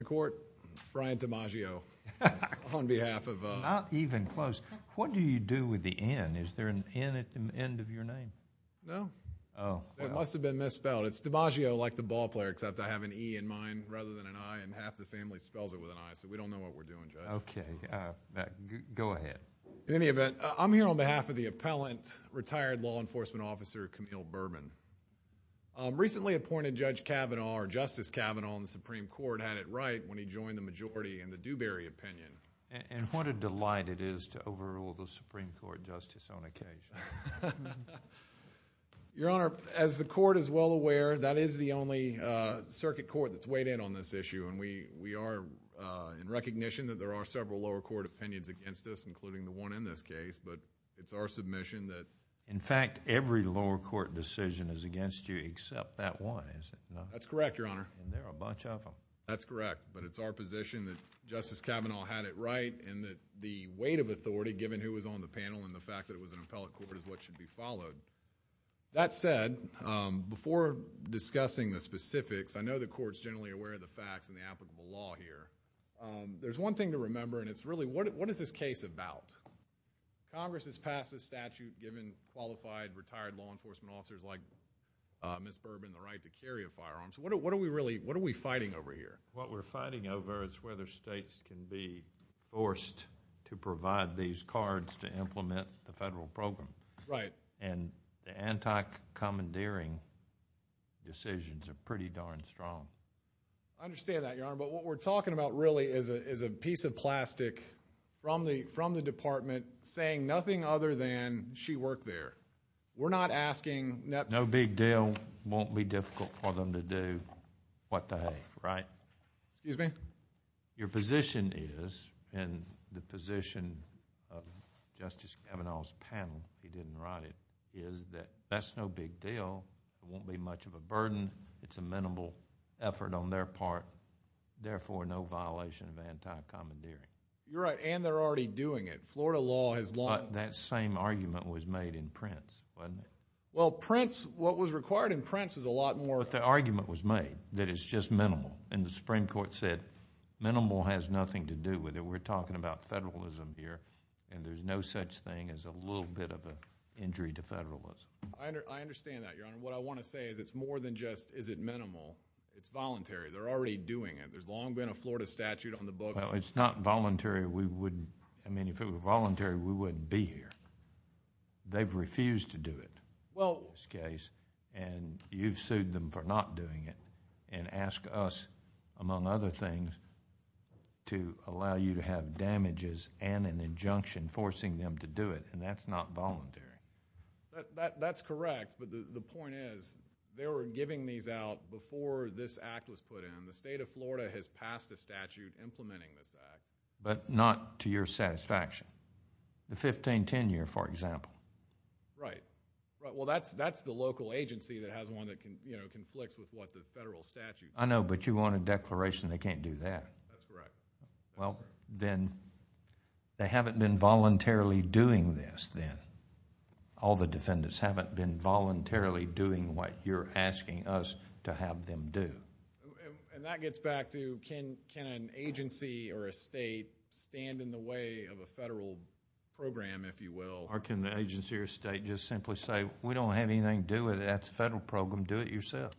I'm here on behalf of the appellant, retired law enforcement officer Camille Burban. Recently appointed Judge Kavanaugh, or Justice Kavanaugh, in the Supreme Court had it right when he joined the majority in the Dewberry opinion. And what a delight it is to overrule the Supreme Court justice on occasion. Your Honor, as the Court is well aware, that is the only circuit court that's weighed in on this issue, and we are in recognition that there are several lower court opinions against us, including the one in this case, but it's our submission that... is against you except that one, is it not? That's correct, Your Honor. And there are a bunch of them. That's correct, but it's our position that Justice Kavanaugh had it right, and that the weight of authority, given who was on the panel and the fact that it was an appellate court, is what should be followed. That said, before discussing the specifics, I know the Court's generally aware of the facts and the applicable law here. There's one thing to remember, and it's really, what is this case about? Congress has passed a statute giving qualified, retired law enforcement officers like Ms. Bourbon the right to carry a firearm. So what are we fighting over here? What we're fighting over is whether states can be forced to provide these cards to implement the federal program. Right. And the anti-commandeering decisions are pretty darn strong. I understand that, Your Honor, but what we're talking about really is a piece of plastic from the department saying nothing other than she worked there. We're not asking... No big deal. Won't be difficult for them to do what they have, right? Excuse me? Your position is, and the position of Justice Kavanaugh's panel, he didn't write it, is that that's no big deal. It won't be much of a burden. It's a minimal effort on their part. Therefore, no violation of anti-commandeering. You're right, and they're already doing it. Florida law has long... That same argument was made in Prince, wasn't it? Well, Prince, what was required in Prince was a lot more... But the argument was made that it's just minimal, and the Supreme Court said minimal has nothing to do with it. We're talking about federalism here, and there's no such thing as a little bit of an injury to federalism. I understand that, Your Honor. What I want to say is it's more than just is it minimal. It's voluntary. They're already doing it. There's long been a Florida statute on the books... Well, it's not voluntary. We wouldn't... I mean, if it were voluntary, we wouldn't be here. They've refused to do it in this case, and you've sued them for not doing it and asked us, among other things, to allow you to have damages and an injunction forcing them to do it, and that's not voluntary. That's correct, but the point is they were giving these out before this act was put in, and the state of Florida has passed a statute implementing this act. But not to your satisfaction. The 1510 year, for example. Right. Well, that's the local agency that has one that conflicts with what the federal statute... I know, but you want a declaration they can't do that. That's correct. Well, then they haven't been voluntarily doing this then. All the defendants haven't been voluntarily doing what you're asking us to have them do. That gets back to can an agency or a state stand in the way of a federal program, if you will? Or can the agency or state just simply say, we don't have anything to do with it, that's a federal program, do it yourself?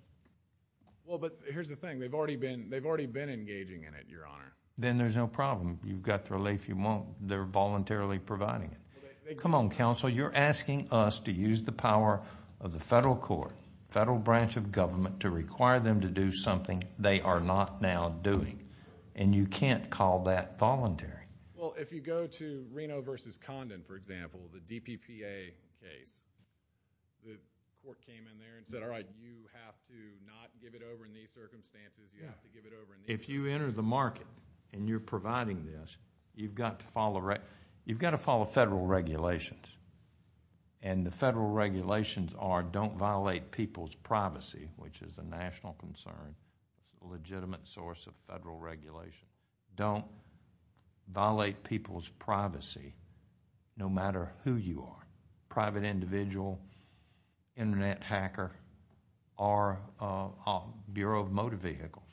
Well, but here's the thing. They've already been engaging in it, Your Honor. Then there's no problem. You've got the relief you want. They're voluntarily providing it. Come on, counsel. You're asking us to use the power of the federal court, federal branch of government, to require them to do something they are not now doing, and you can't call that voluntary. Well, if you go to Reno v. Condon, for example, the DPPA case, the court came in there and said, all right, you have to not give it over in these circumstances. You have to give it over in these circumstances. If you enter the market and you're providing this, you've got to follow federal regulations, and the federal regulations are don't violate people's privacy, which is a national concern, a legitimate source of federal regulation. Don't violate people's privacy, no matter who you are, private individual, internet hacker, or Bureau of Motor Vehicles.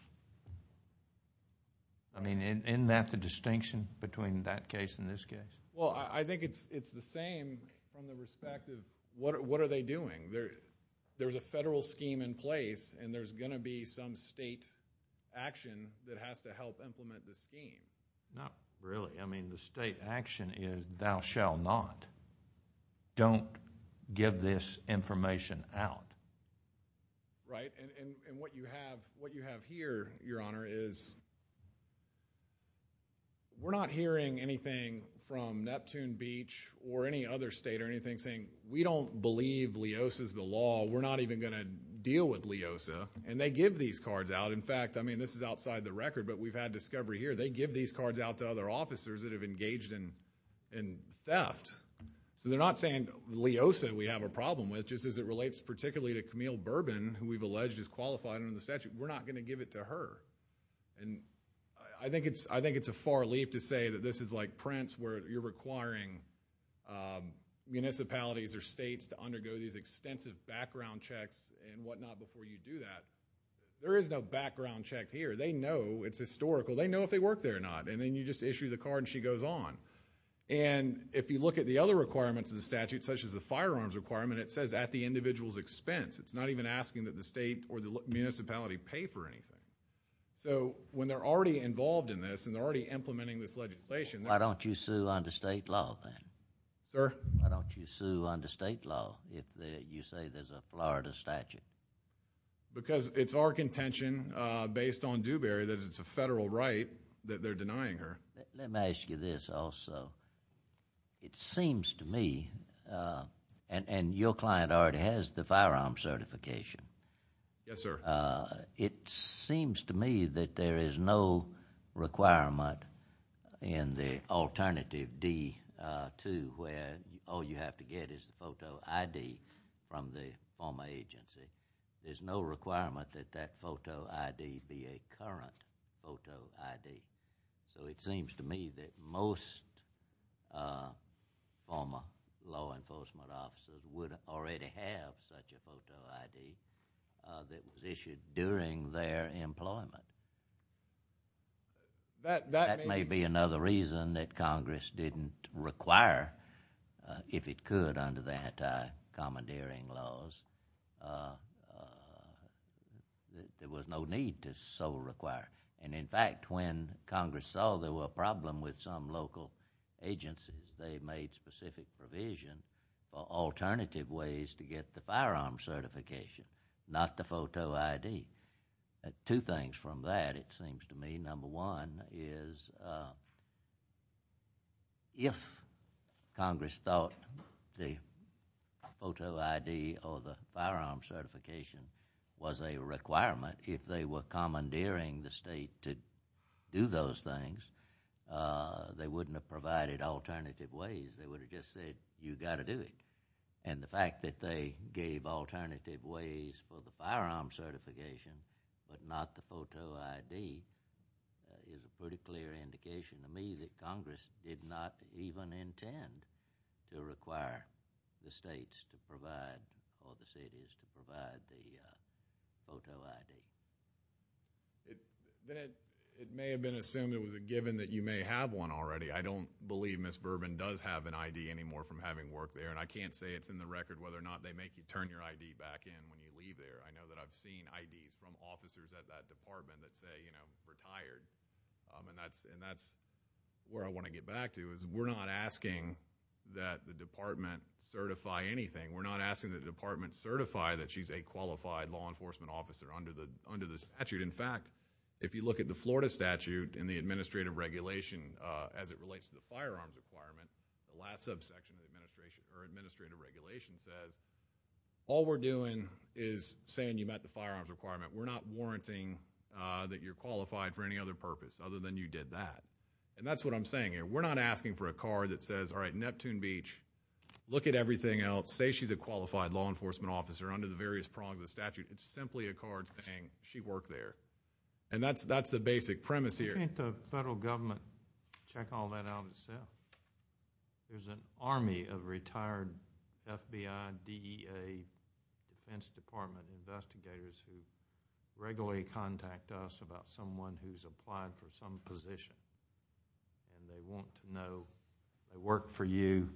I mean, isn't that the distinction between that case and this case? Well, I think it's the same from the perspective, what are they doing? There's a federal scheme in place, and there's going to be some state action that has to help implement the scheme. Not really. I mean, the state action is thou shall not. Don't give this information out. Right, and what you have here, Your Honor, is we're not hearing anything from Neptune Beach or any other state or anything saying, we don't believe Leosa's the law. We're not even going to deal with Leosa, and they give these cards out. In fact, I mean, this is outside the record, but we've had discovery here. They give these cards out to other officers that have engaged in theft. So they're not saying Leosa we have a problem with, just as it relates particularly to Camille Bourbon, who we've alleged is qualified under the statute. We're not going to give it to her. And I think it's a far leap to say that this is like Prince, where you're requiring municipalities or states to undergo these extensive background checks and whatnot before you do that. There is no background check here. They know it's historical. They know if they work there or not. And then you just issue the card and she goes on. And if you look at the other requirements of the statute, such as the firearms requirement, it says at the individual's expense. It's not even asking that the state or the municipality pay for anything. So when they're already involved in this and they're already implementing this legislation, Why don't you sue under state law, then? Sir? Why don't you sue under state law if you say there's a Florida statute? Because it's our contention based on Dewberry that it's a federal right that they're denying her. Let me ask you this also. It seems to me, and your client already has the firearm certification. Yes, sir. It seems to me that there is no requirement in the alternative D-2 where all you have to get is the photo ID from the former agency. There's no requirement that that photo ID be a current photo ID. So it seems to me that most former law enforcement officers would already have such a photo ID that was issued during their employment. That may be another reason that Congress didn't require, if it could under the anti-commandeering laws, that there was no need to so require. And in fact, when Congress saw there was a problem with some local agency, they made specific provision for alternative ways to get the firearm certification, not the photo ID. Two things from that, it seems to me. Number one is if Congress thought the photo ID or the firearm certification was a requirement, if they were commandeering the state to do those things, they wouldn't have provided alternative ways. They would have just said, you've got to do it. And the fact that they gave alternative ways for the firearm certification but not the photo ID is a pretty clear indication to me that Congress did not even intend to require the states to provide or the cities to provide the photo ID. It may have been assumed it was a given that you may have one already. I don't believe Ms. Bourbon does have an ID anymore from having worked there, and I can't say it's in the record whether or not they make you turn your ID back in when you leave there. I know that I've seen IDs from officers at that department that say, you know, retired. And that's where I want to get back to is we're not asking that the department certify anything. We're not asking the department certify that she's a qualified law enforcement officer under the statute. In fact, if you look at the Florida statute and the administrative regulation as it relates to the firearms requirement, the last subsection of the administrative regulation says, all we're doing is saying you met the firearms requirement. We're not warranting that you're qualified for any other purpose other than you did that. And that's what I'm saying here. We're not asking for a card that says, all right, Neptune Beach, look at everything else, say she's a qualified law enforcement officer under the various prongs of the statute. It's simply a card saying she worked there. And that's the basic premise here. Why doesn't the federal government check all that out itself? There's an army of retired FBI, DEA, Defense Department investigators who regularly contact us about someone who's applied for some position. And they want to know, they work for you.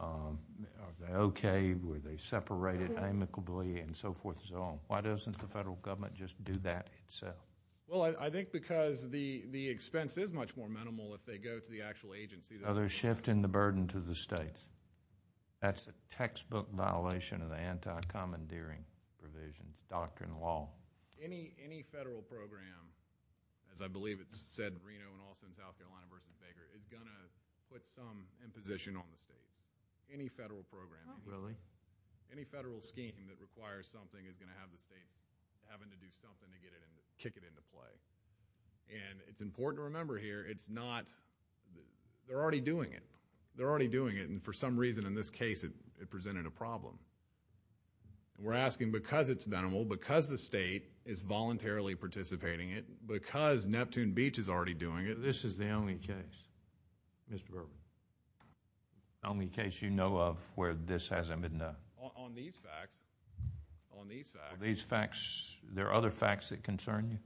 Are they okay? Were they separated amicably? And so forth and so on. Why doesn't the federal government just do that itself? Well, I think because the expense is much more minimal if they go to the actual agency. Are they shifting the burden to the states? That's a textbook violation of the anti-commandeering provision, doctrine law. Any federal program, as I believe it's said, Reno and Alston, South Carolina versus Baker, is going to put some imposition on the state. Any federal program. Really? Any federal scheme that requires something is going to have the state having to do something to kick it into play. And it's important to remember here, it's not, they're already doing it. They're already doing it, and for some reason in this case it presented a problem. We're asking because it's minimal, because the state is voluntarily participating in it, because Neptune Beach is already doing it. This is the only case, Mr. Burwell, the only case you know of where this hasn't been done. On these facts, on these facts. These facts, there are other facts that concern you?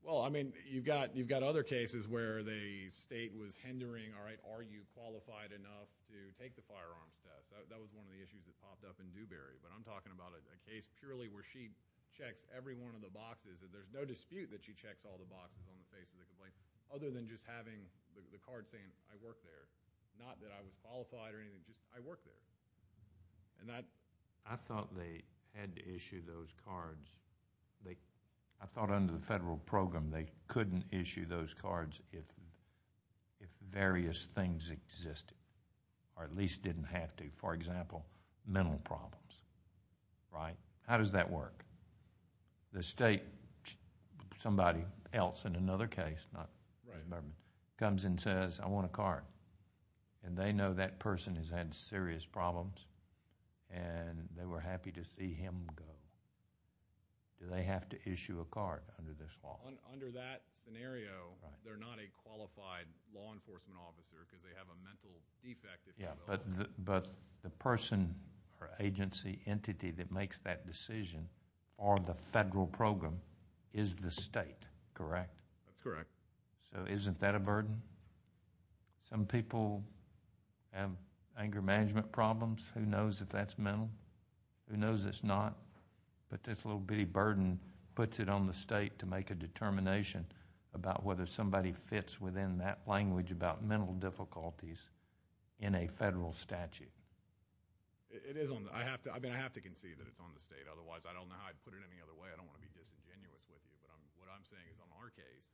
Well, I mean, you've got other cases where the state was hindering, all right, are you qualified enough to take the firearms test? That was one of the issues that popped up in Dewberry. But I'm talking about a case purely where she checks every one of the boxes. There's no dispute that she checks all the boxes when we face a complaint, other than just having the card saying, I worked there. Not that I was qualified or anything, just I worked there. I thought they had to issue those cards. I thought under the federal program they couldn't issue those cards if various things existed, or at least didn't have to. For example, mental problems, right? How does that work? The state, somebody else in another case, not this government, comes and says, I want a card. And they know that person has had serious problems and they were happy to see him go. Do they have to issue a card under this law? Under that scenario, they're not a qualified law enforcement officer because they have a mental defect issue. But the person, agency, entity that makes that decision on the federal program is the state, correct? That's correct. So isn't that a burden? Some people have anger management problems. Who knows if that's mental? Who knows it's not? But this little bitty burden puts it on the state to make a determination about whether somebody fits within that language about mental difficulties in a federal statute. I have to concede that it's on the state. Otherwise, I don't know how I'd put it any other way. I don't want to be disingenuous. What I'm saying is, on our case,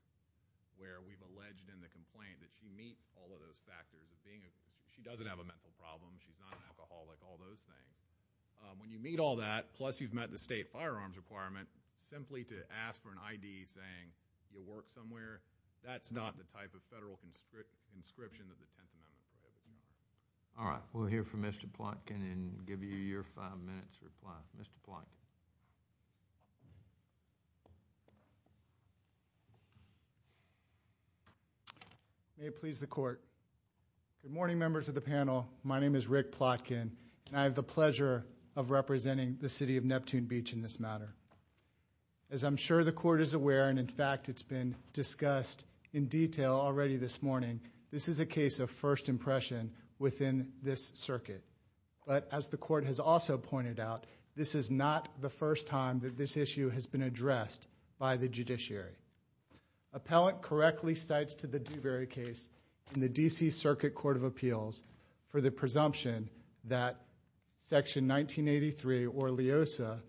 where we've alleged in the complaint that she meets all of those factors, being that she doesn't have a mental problem, she's not an alcoholic, all those things. When you meet all that, plus you've met the state firearms requirement, simply to ask for an ID saying you work somewhere, that's not the type of federal conscription that depends on that. All right. We'll hear from Mr. Plotkin and give you your five minutes to reply. Mr. Plotkin. May it please the court. Good morning, members of the panel. My name is Rick Plotkin, and I have the pleasure of representing the city of Neptune Beach in this matter. As I'm sure the court is aware, and, in fact, it's been discussed in detail already this morning, this is a case of first impression within this circuit. But as the court has also pointed out, this is not the first time that this issue has been addressed by the judiciary. Appellant correctly cites to the Dewberry case in the D.C. Circuit Court of Appeals for the presumption that Section 1983 or LEOSA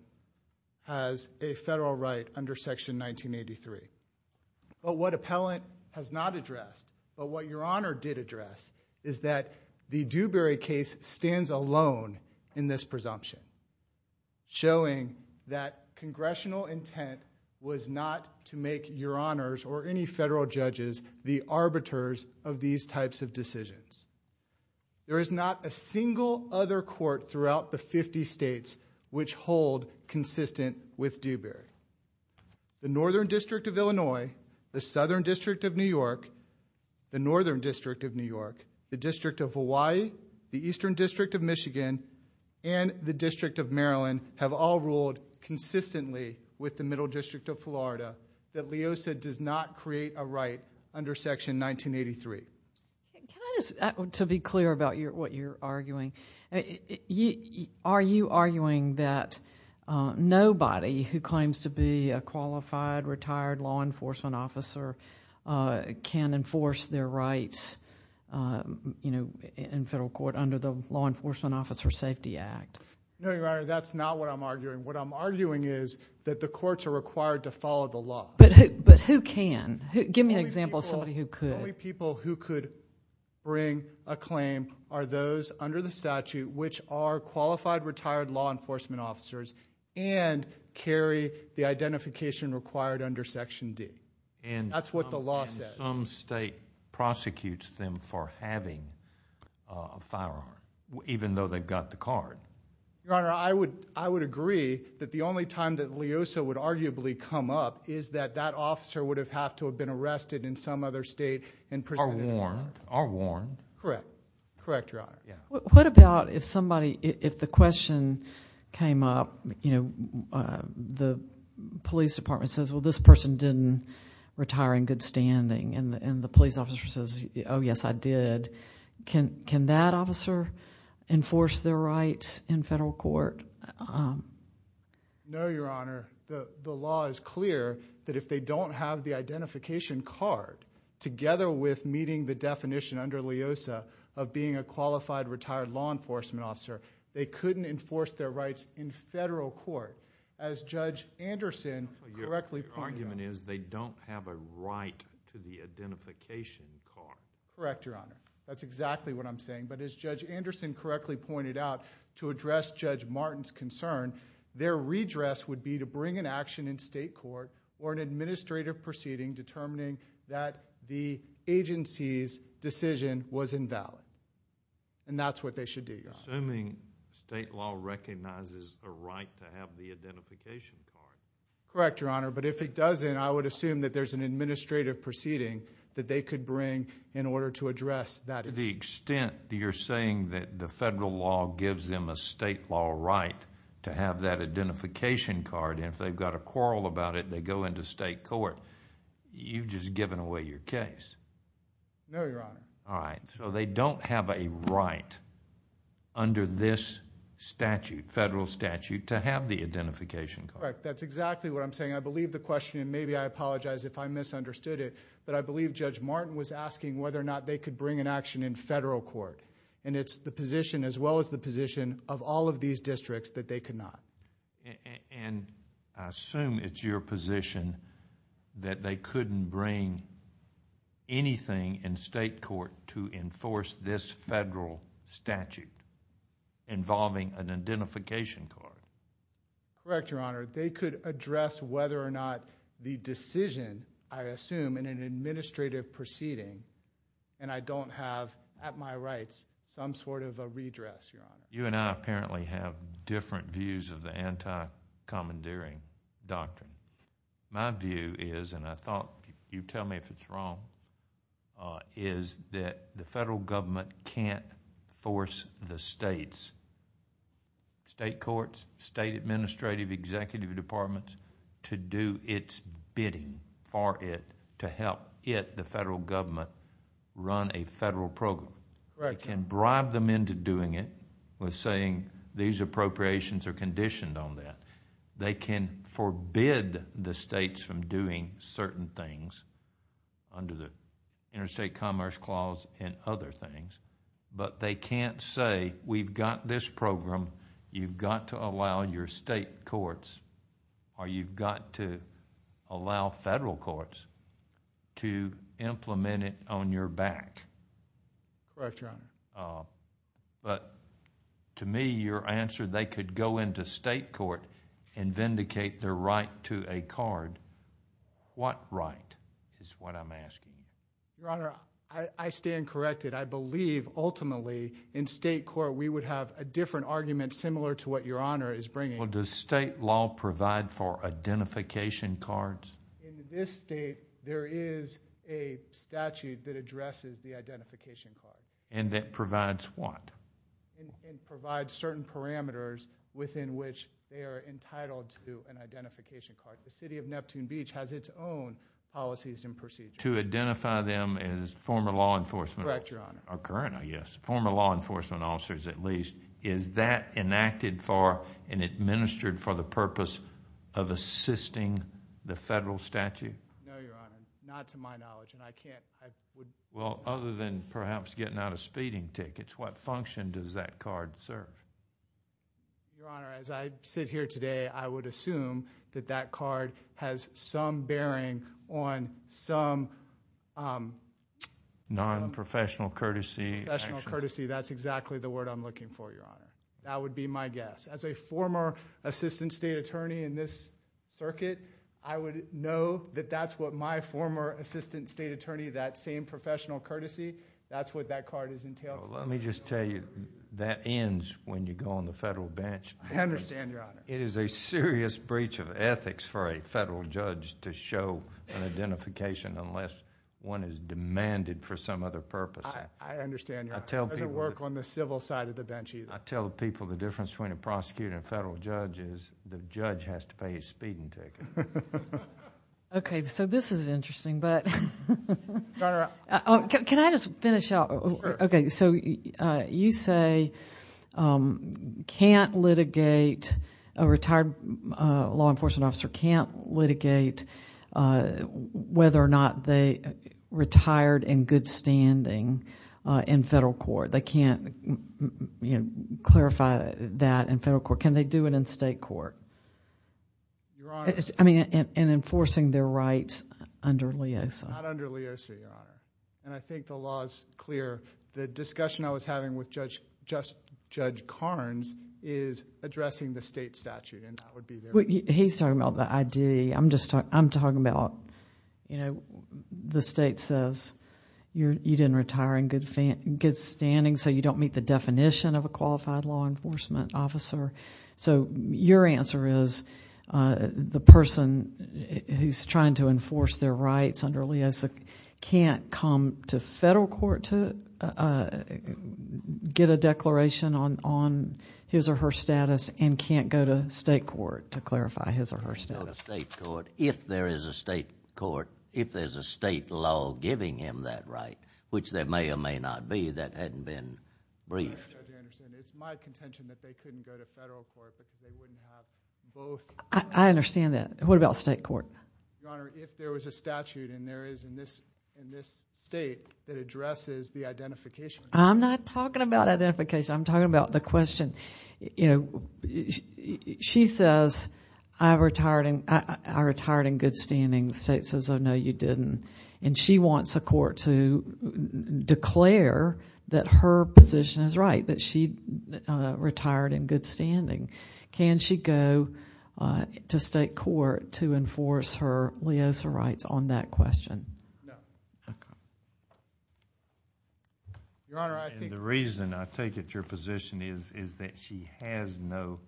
has a federal right under Section 1983. But what appellant has not addressed, but what Your Honor did address, is that the Dewberry case stands alone in this presumption. Showing that congressional intent was not to make Your Honors or any federal judges the arbiters of these types of decisions. There is not a single other court throughout the 50 states which hold consistent with Dewberry. The Northern District of Illinois, the Southern District of New York, the Northern District of New York, the District of Hawaii, the Eastern District of Michigan, and the District of Maryland have all ruled consistently with the Middle District of Florida that LEOSA does not create a right under Section 1983. To be clear about what you're arguing, are you arguing that nobody who claims to be a qualified retired law enforcement officer can enforce their rights in federal court under the Law Enforcement Officer Safety Act? No, Your Honor, that's not what I'm arguing. What I'm arguing is that the courts are required to follow the law. But who can? Give me an example of somebody who could. The only people who could bring a claim are those under the statute which are qualified retired law enforcement officers and carry the identification required under Section D. That's what the law says. Some state prosecutes them for having a firearm even though they've got the card. Your Honor, I would agree that the only time that LEOSA would arguably come up is that that officer would have to have been arrested in some other state and presented a warrant. Or warned. Or warned. Correct. Correct, Your Honor. What about if the question came up, the police department says, well, this person didn't retire in good standing. And the police officer says, oh, yes, I did. Can that officer enforce their rights in federal court? No, Your Honor, the law is clear that if they don't have the identification card together with meeting the definition under LEOSA of being a qualified retired law enforcement officer, they couldn't enforce their rights in federal court. As Judge Anderson correctly pointed out. Your argument is they don't have a right to the identification card. Correct, Your Honor. That's exactly what I'm saying. But as Judge Anderson correctly pointed out, to address Judge Martin's concern, their redress would be to bring an action in state court or an administrative proceeding determining that the agency's decision was invalid. And that's what they should do, Your Honor. Assuming state law recognizes the right to have the identification card. Correct, Your Honor. But if it doesn't, I would assume that there's an administrative proceeding that they could bring in order to address that. To the extent that you're saying that the federal law gives them a state law right to have that identification card, and if they've got a quarrel about it, they go into state court, you've just given away your case. No, Your Honor. All right. So they don't have a right under this statute, federal statute, to have the identification card. Correct. That's exactly what I'm saying. I believe the question, and maybe I apologize if I misunderstood it, but I believe Judge Martin was asking whether or not they could bring an action in federal court. And it's the position as well as the position of all of these districts that they could not. And I assume it's your position that they couldn't bring anything in state court to enforce this federal statute involving an identification card. Correct, Your Honor. They could address whether or not the decision, I assume, in an administrative proceeding, and I don't have at my rights some sort of a redress, Your Honor. You and I apparently have different views of the anti-commandeering doctrine. My view is, and I thought you'd tell me if it's wrong, is that the federal government can't force the states, state courts, state administrative, executive departments, to do its bidding for it to help it, the federal government, run a federal program. They can bribe them into doing it with saying these appropriations are conditioned on that. They can forbid the states from doing certain things under the Interstate Commerce Clause and other things. But they can't say, we've got this program, you've got to allow your state courts, or you've got to allow federal courts to implement it on your back. Correct, Your Honor. But to me, your answer, they could go into state court and vindicate their right to a card. What right is what I'm asking? Your Honor, I stand corrected. I believe, ultimately, in state court, we would have a different argument similar to what Your Honor is bringing. Well, does state law provide for identification cards? In this state, there is a statute that addresses the identification card. And that provides what? It provides certain parameters within which they are entitled to an identification card. The city of Neptune Beach has its own policies and procedures. To identify them as former law enforcement officers? Correct, Your Honor. Or current, I guess. Former law enforcement officers, at least. Is that enacted for and administered for the purpose of assisting the federal statute? No, Your Honor, not to my knowledge. Well, other than perhaps getting out of speeding tickets, what function does that card serve? Your Honor, as I sit here today, I would assume that that card has some bearing on some... Non-professional courtesy. Professional courtesy. That's exactly the word I'm looking for, Your Honor. That would be my guess. As a former assistant state attorney in this circuit, I would know that that's what my former assistant state attorney, that same professional courtesy, that's what that card has entailed. Well, let me just tell you, that ends when you go on the federal bench. I understand, Your Honor. It is a serious breach of ethics for a federal judge to show an identification unless one is demanded for some other purpose. I understand, Your Honor. It doesn't work on the civil side of the bench either. I tell people the difference between a prosecutor and a federal judge is the judge has to pay his speeding ticket. Okay, so this is interesting, but... Go on, Your Honor. Can I just finish out? Sure. Okay, so you say a retired law enforcement officer can't litigate whether or not they retired in good standing in federal court. They can't clarify that in federal court. Can they do it in state court? Your Honor... I mean, in enforcing their rights under LEOSA. Not under LEOSA, Your Honor. I think the law is clear. The discussion I was having with Judge Carnes is addressing the state statute, and that would be... He's talking about the ID. I'm talking about the state says you didn't retire in good standing, so you don't meet the definition of a qualified law enforcement officer. Your answer is the person who's trying to enforce their rights under LEOSA can't come to federal court to get a declaration on his or her status and can't go to state court to clarify his or her status. If there is a state law giving him that right, which there may or may not be that hadn't been briefed... It's my contention that they couldn't go to federal court because they wouldn't have both... I understand that. What about state court? Your Honor, if there was a statute and there is in this state that addresses the identification... I'm not talking about identification. I'm talking about the question. She says, I retired in good standing. The state says, oh, no, you didn't. And she wants the court to declare that her position is right, that she retired in good standing. Can she go to state court to enforce her LEOSA rights on that question? No. Okay. Your Honor, I think... The reason I take it your position is that she has no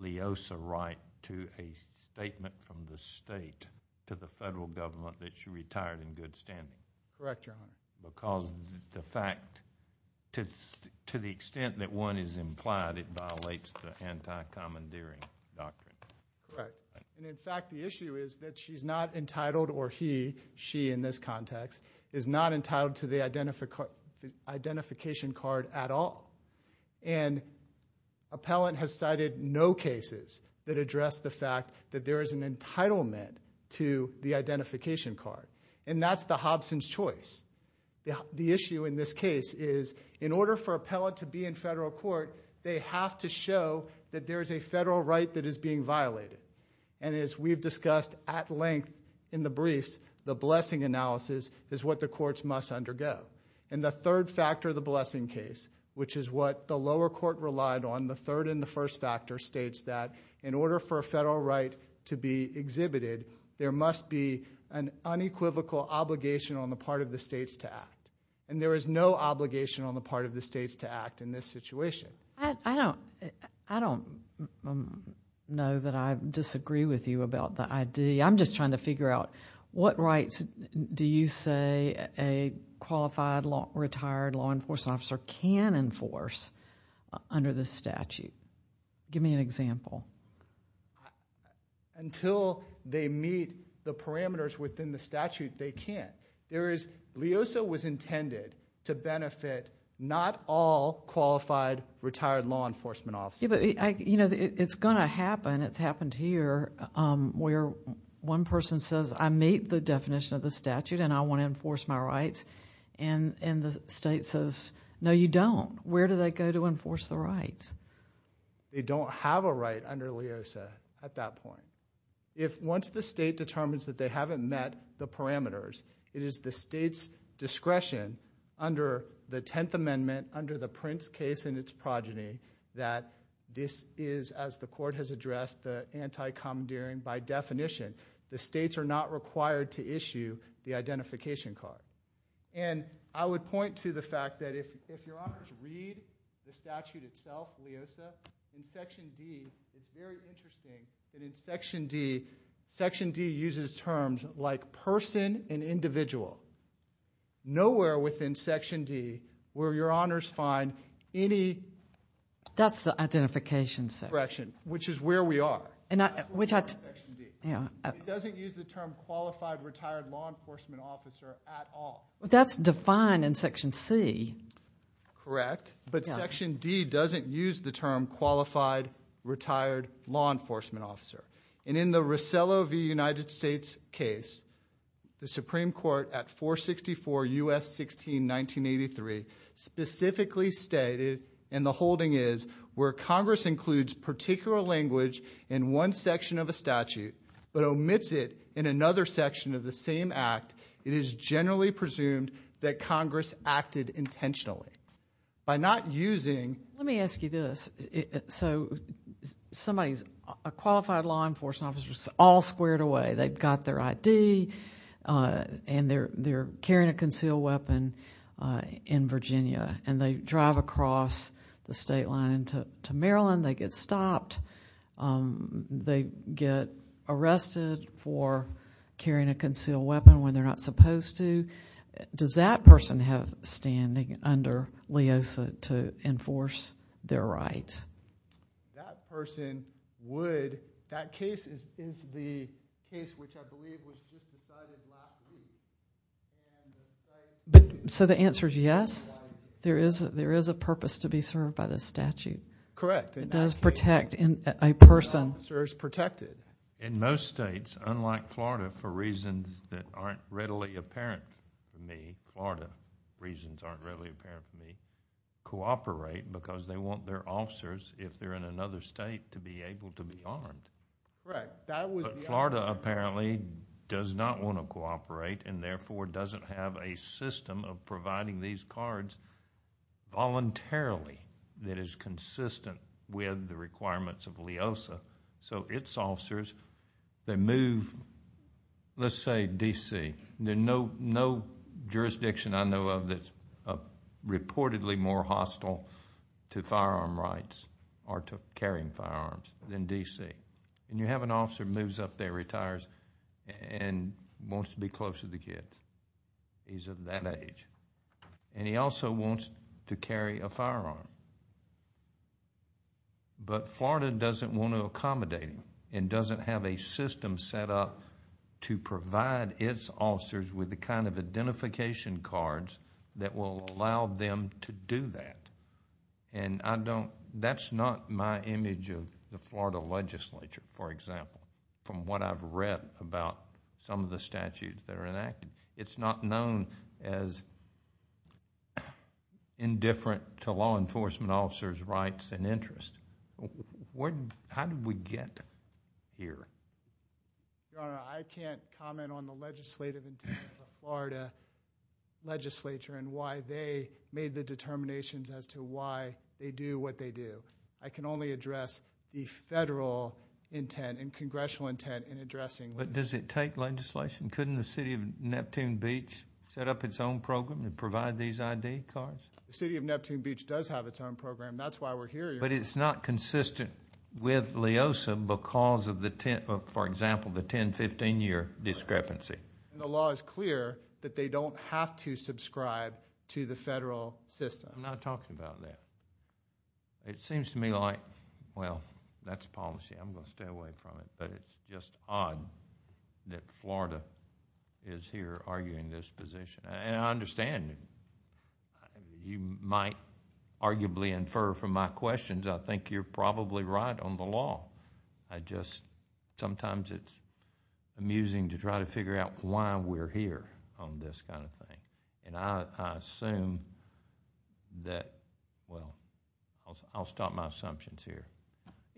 LEOSA right to a statement from the state to the federal government that she retired in good standing. Correct, Your Honor. Because to the extent that one is implied, it violates the anti-commandeering doctrine. Right. In fact, the issue is that she's not entitled or he, she in this context, is not entitled to the identification card at all. Appellant has cited no cases that address the fact that there is an entitlement to the identification card. That's the Hobson's choice. The issue in this case is in order for appellant to be in federal court, they have to show that there is a federal right that is being violated. As we've discussed at length in the briefs, the blessing analysis is what the courts must undergo. The third factor of the blessing case, which is what the lower court relied on, the third and the first factor states that in order for a federal right to be exhibited, there must be an unequivocal obligation on the part of the states to act. There is no obligation on the part of the states to act in this situation. I don't know that I disagree with you about the idea. I'm just trying to figure out what rights do you say a qualified, retired law enforcement officer can enforce under this statute? Give me an example. Until they meet the parameters within the statute, they can't. LEOSA was intended to benefit not all qualified, retired law enforcement officers. It's going to happen. It's happened here where one person says, I meet the definition of the statute and I want to enforce my rights, and the state says, no, you don't. Where do they go to enforce the rights? They don't have a right under LEOSA at that point. Once the state determines that they haven't met the parameters, it is the state's discretion under the Tenth Amendment, under the Prince case and its progeny that this is, as the court has addressed, the anti-commandeering by definition. The states are not required to issue the identification card. I would point to the fact that if you're offered to read the statute itself, in Section D it's very interesting that in Section D, Section D uses terms like person and individual. Nowhere within Section D will your honors find any- That's the identification section. Which is where we are. It doesn't use the term qualified, retired law enforcement officer at all. That's defined in Section C. Correct. But Section D doesn't use the term qualified, retired law enforcement officer. And in the Rosello v. United States case, the Supreme Court at 464 U.S. 16, 1983, specifically stated, and the holding is, where Congress includes particular language in one section of a statute, but omits it in another section of the same act, it is generally presumed that Congress acted intentionally. By not using- Let me ask you this. So a qualified law enforcement officer is all squared away. They've got their ID, and they're carrying a concealed weapon in Virginia, and they drive across the state line to Maryland. They get stopped. They get arrested for carrying a concealed weapon when they're not supposed to. Does that person have standing under LEOSA to enforce their rights? That person would. That case is the case which I believe was just decided last week. So the answer is yes? There is a purpose to be served by this statute. Correct. It does protect a person. An officer is protected. In most states, unlike Florida, for reasons that aren't readily apparent to me, Florida reasons aren't readily apparent to me, cooperate because they want their officers, if they're in another state, to be able to be armed. Correct. But Florida apparently does not want to cooperate and therefore doesn't have a system of providing these cards voluntarily that is consistent with the requirements of LEOSA. So its officers, they move, let's say D.C. There's no jurisdiction I know of that's reportedly more hostile to firearm rights or to carrying firearms than D.C. And you have an officer who moves up there, retires, and wants to be close to the kid. He's of that age. And he also wants to carry a firearm. But Florida doesn't want to accommodate him and doesn't have a system set up to provide its officers with the kind of identification cards that will allow them to do that. And that's not my image of the Florida legislature, for example, from what I've read about some of the statutes that are enacted. It's not known as indifferent to law enforcement officers' rights and interests. How did we get here? Your Honor, I can't comment on the legislative intent of the Florida legislature and why they made the determinations as to why they do what they do. I can only address the federal intent and congressional intent in addressing that. But does it take legislation? Couldn't the city of Neptune Beach set up its own program to provide these ID cards? The city of Neptune Beach does have its own program. That's why we're here, Your Honor. But it's not consistent with LEOSA because of, for example, the 10-15 year discrepancy. The law is clear that they don't have to subscribe to the federal system. I'm not talking about that. It seems to me like, well, that's policy. I'm going to stay away from it. But it's just odd that Florida is here arguing this position. I understand. You might arguably infer from my questions, I think you're probably right on the law. Sometimes it's amusing to try to figure out why we're here on this kind of thing. I'll stop my assumptions here.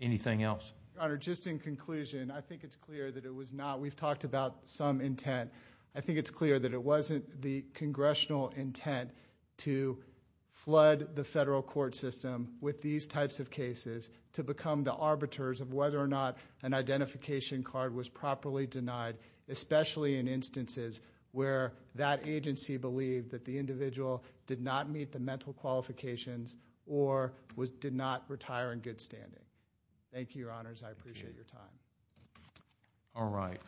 Anything else? Your Honor, just in conclusion, I think it's clear that it was not—we've talked about some intent. I think it's clear that it wasn't the congressional intent to flood the federal court system with these types of cases to become the arbiters of whether or not an identification card was properly denied, especially in instances where that agency believed that the individual did not meet the mental qualifications or did not retire in good standing. Thank you, Your Honors. I appreciate your time. All right.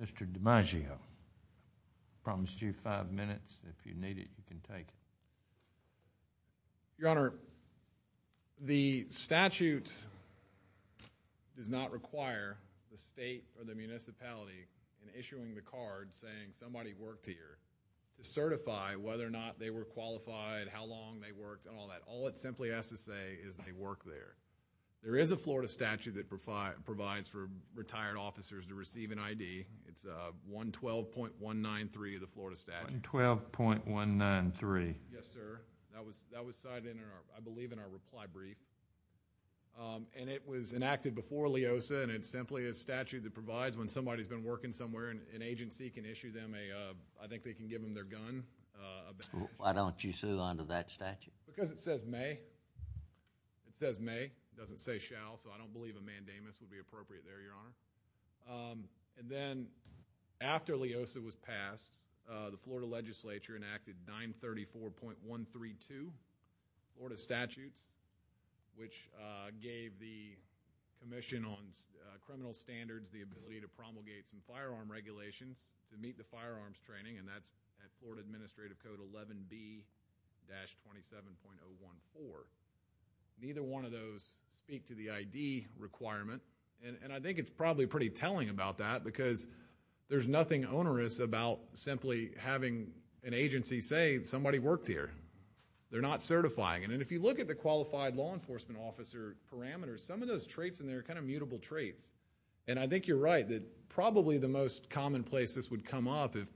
Mr. DiMaggio, I promised you five minutes. If you need it, you can take it. Your Honor, the statute does not require the state or the municipality in issuing the card saying somebody worked here to certify whether or not they were qualified, how long they worked, and all that. All I can say is they work there. There is a Florida statute that provides for retired officers to receive an ID. It's 112.193 of the Florida statute. 112.193. Yes, sir. That was cited, I believe, in our reply brief. And it was enacted before LEOSA, and it's simply a statute that provides when somebody's been working somewhere, an agency can issue them a— Why don't you sue under that statute? Because it says may. It says may. It doesn't say shall, so I don't believe a mandamus would be appropriate there, Your Honor. And then, after LEOSA was passed, the Florida legislature enacted 934.132, Florida statutes, which gave the Commission on Criminal Standards the ability to promulgate some firearm regulations to meet the firearms training, and that's at Florida Administrative Code 11B-27.014. Neither one of those speak to the ID requirement, and I think it's probably pretty telling about that because there's nothing onerous about simply having an agency say somebody worked here. They're not certifying it. And if you look at the qualified law enforcement officer parameters, some of those traits in there are kind of mutable traits. And I think you're right that probably the most commonplace this would come up if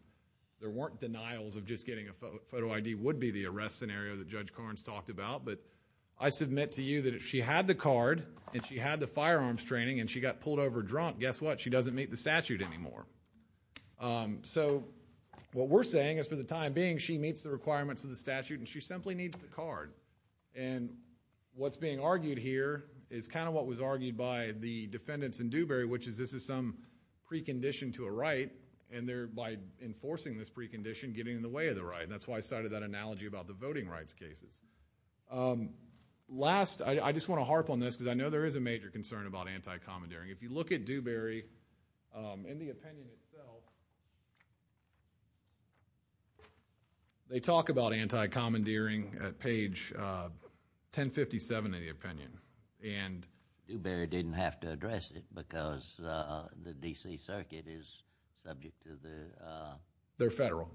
there weren't denials of just getting a photo ID would be the arrest scenario that Judge Carnes talked about. But I submit to you that if she had the card and she had the firearms training and she got pulled over drunk, guess what? She doesn't meet the statute anymore. So what we're saying is for the time being, she meets the requirements of the statute, and she simply needs the card. And what's being argued here is kind of what was argued by the defendants in Dewberry, which is this is some precondition to a right, and thereby enforcing this precondition, getting in the way of the right. And that's why I started that analogy about the voting rights cases. Last, I just want to harp on this because I know there is a major concern about anti-commandeering. If you look at Dewberry and the opinion itself, they talk about anti-commandeering at page 1057 of the opinion. Dewberry didn't have to address it because the D.C. Circuit is subject to the... They're federal.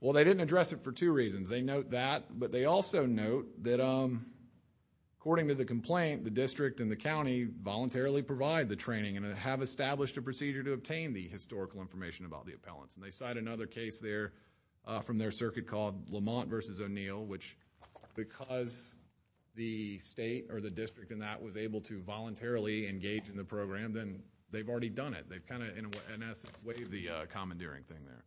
Well, they didn't address it for two reasons. They note that, but they also note that according to the complaint, the district and the county voluntarily provide the training and have established a procedure to obtain the historical information about the appellants. And they cite another case there from their circuit called Lamont v. O'Neill, which because the state or the district in that was able to voluntarily engage in the program, then they've already done it. They've kind of in essence waived the commandeering thing there.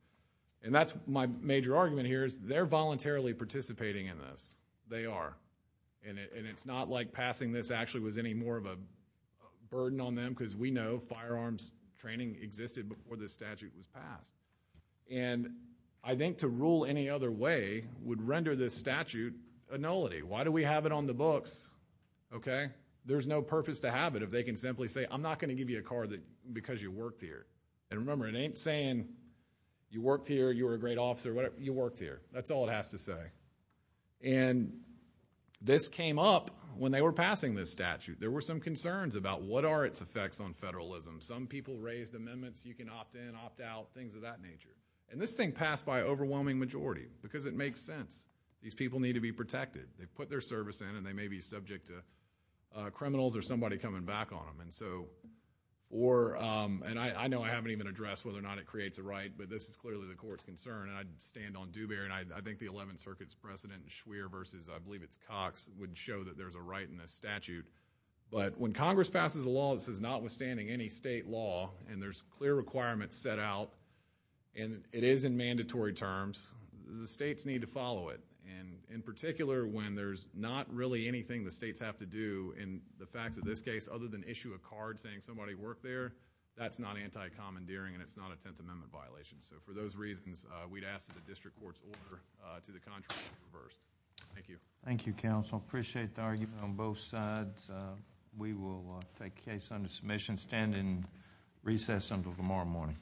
And that's my major argument here is they're voluntarily participating in this. They are. And it's not like passing this actually was any more of a burden on them because we know firearms training existed before this statute was passed. And I think to rule any other way would render this statute a nullity. Why do we have it on the books? Okay? There's no purpose to have it if they can simply say, I'm not going to give you a card because you worked here. And remember, it ain't saying you worked here, you were a great officer, whatever. You worked here. That's all it has to say. And this came up when they were passing this statute. There were some concerns about what are its effects on federalism. Some people raised amendments. You can opt in, opt out, things of that nature. And this thing passed by an overwhelming majority because it makes sense. These people need to be protected. They put their service in, and they may be subject to criminals or somebody coming back on them. And I know I haven't even addressed whether or not it creates a right, but this is clearly the court's concern, and I stand on Dubair, and I think the 11th Circuit's precedent, and Schwerer versus I believe it's Cox, would show that there's a right in this statute. But when Congress passes a law that says notwithstanding any state law and there's clear requirements set out, and it is in mandatory terms, the states need to follow it. And in particular, when there's not really anything the states have to do in the facts of this case other than issue a card saying somebody worked there, that's not anti-commandeering and it's not a Tenth Amendment violation. So for those reasons, we'd ask that the district courts order to the contrary. Thank you. Thank you, counsel. I appreciate the argument on both sides. We will take case under submission, stand in recess until tomorrow morning. All rise.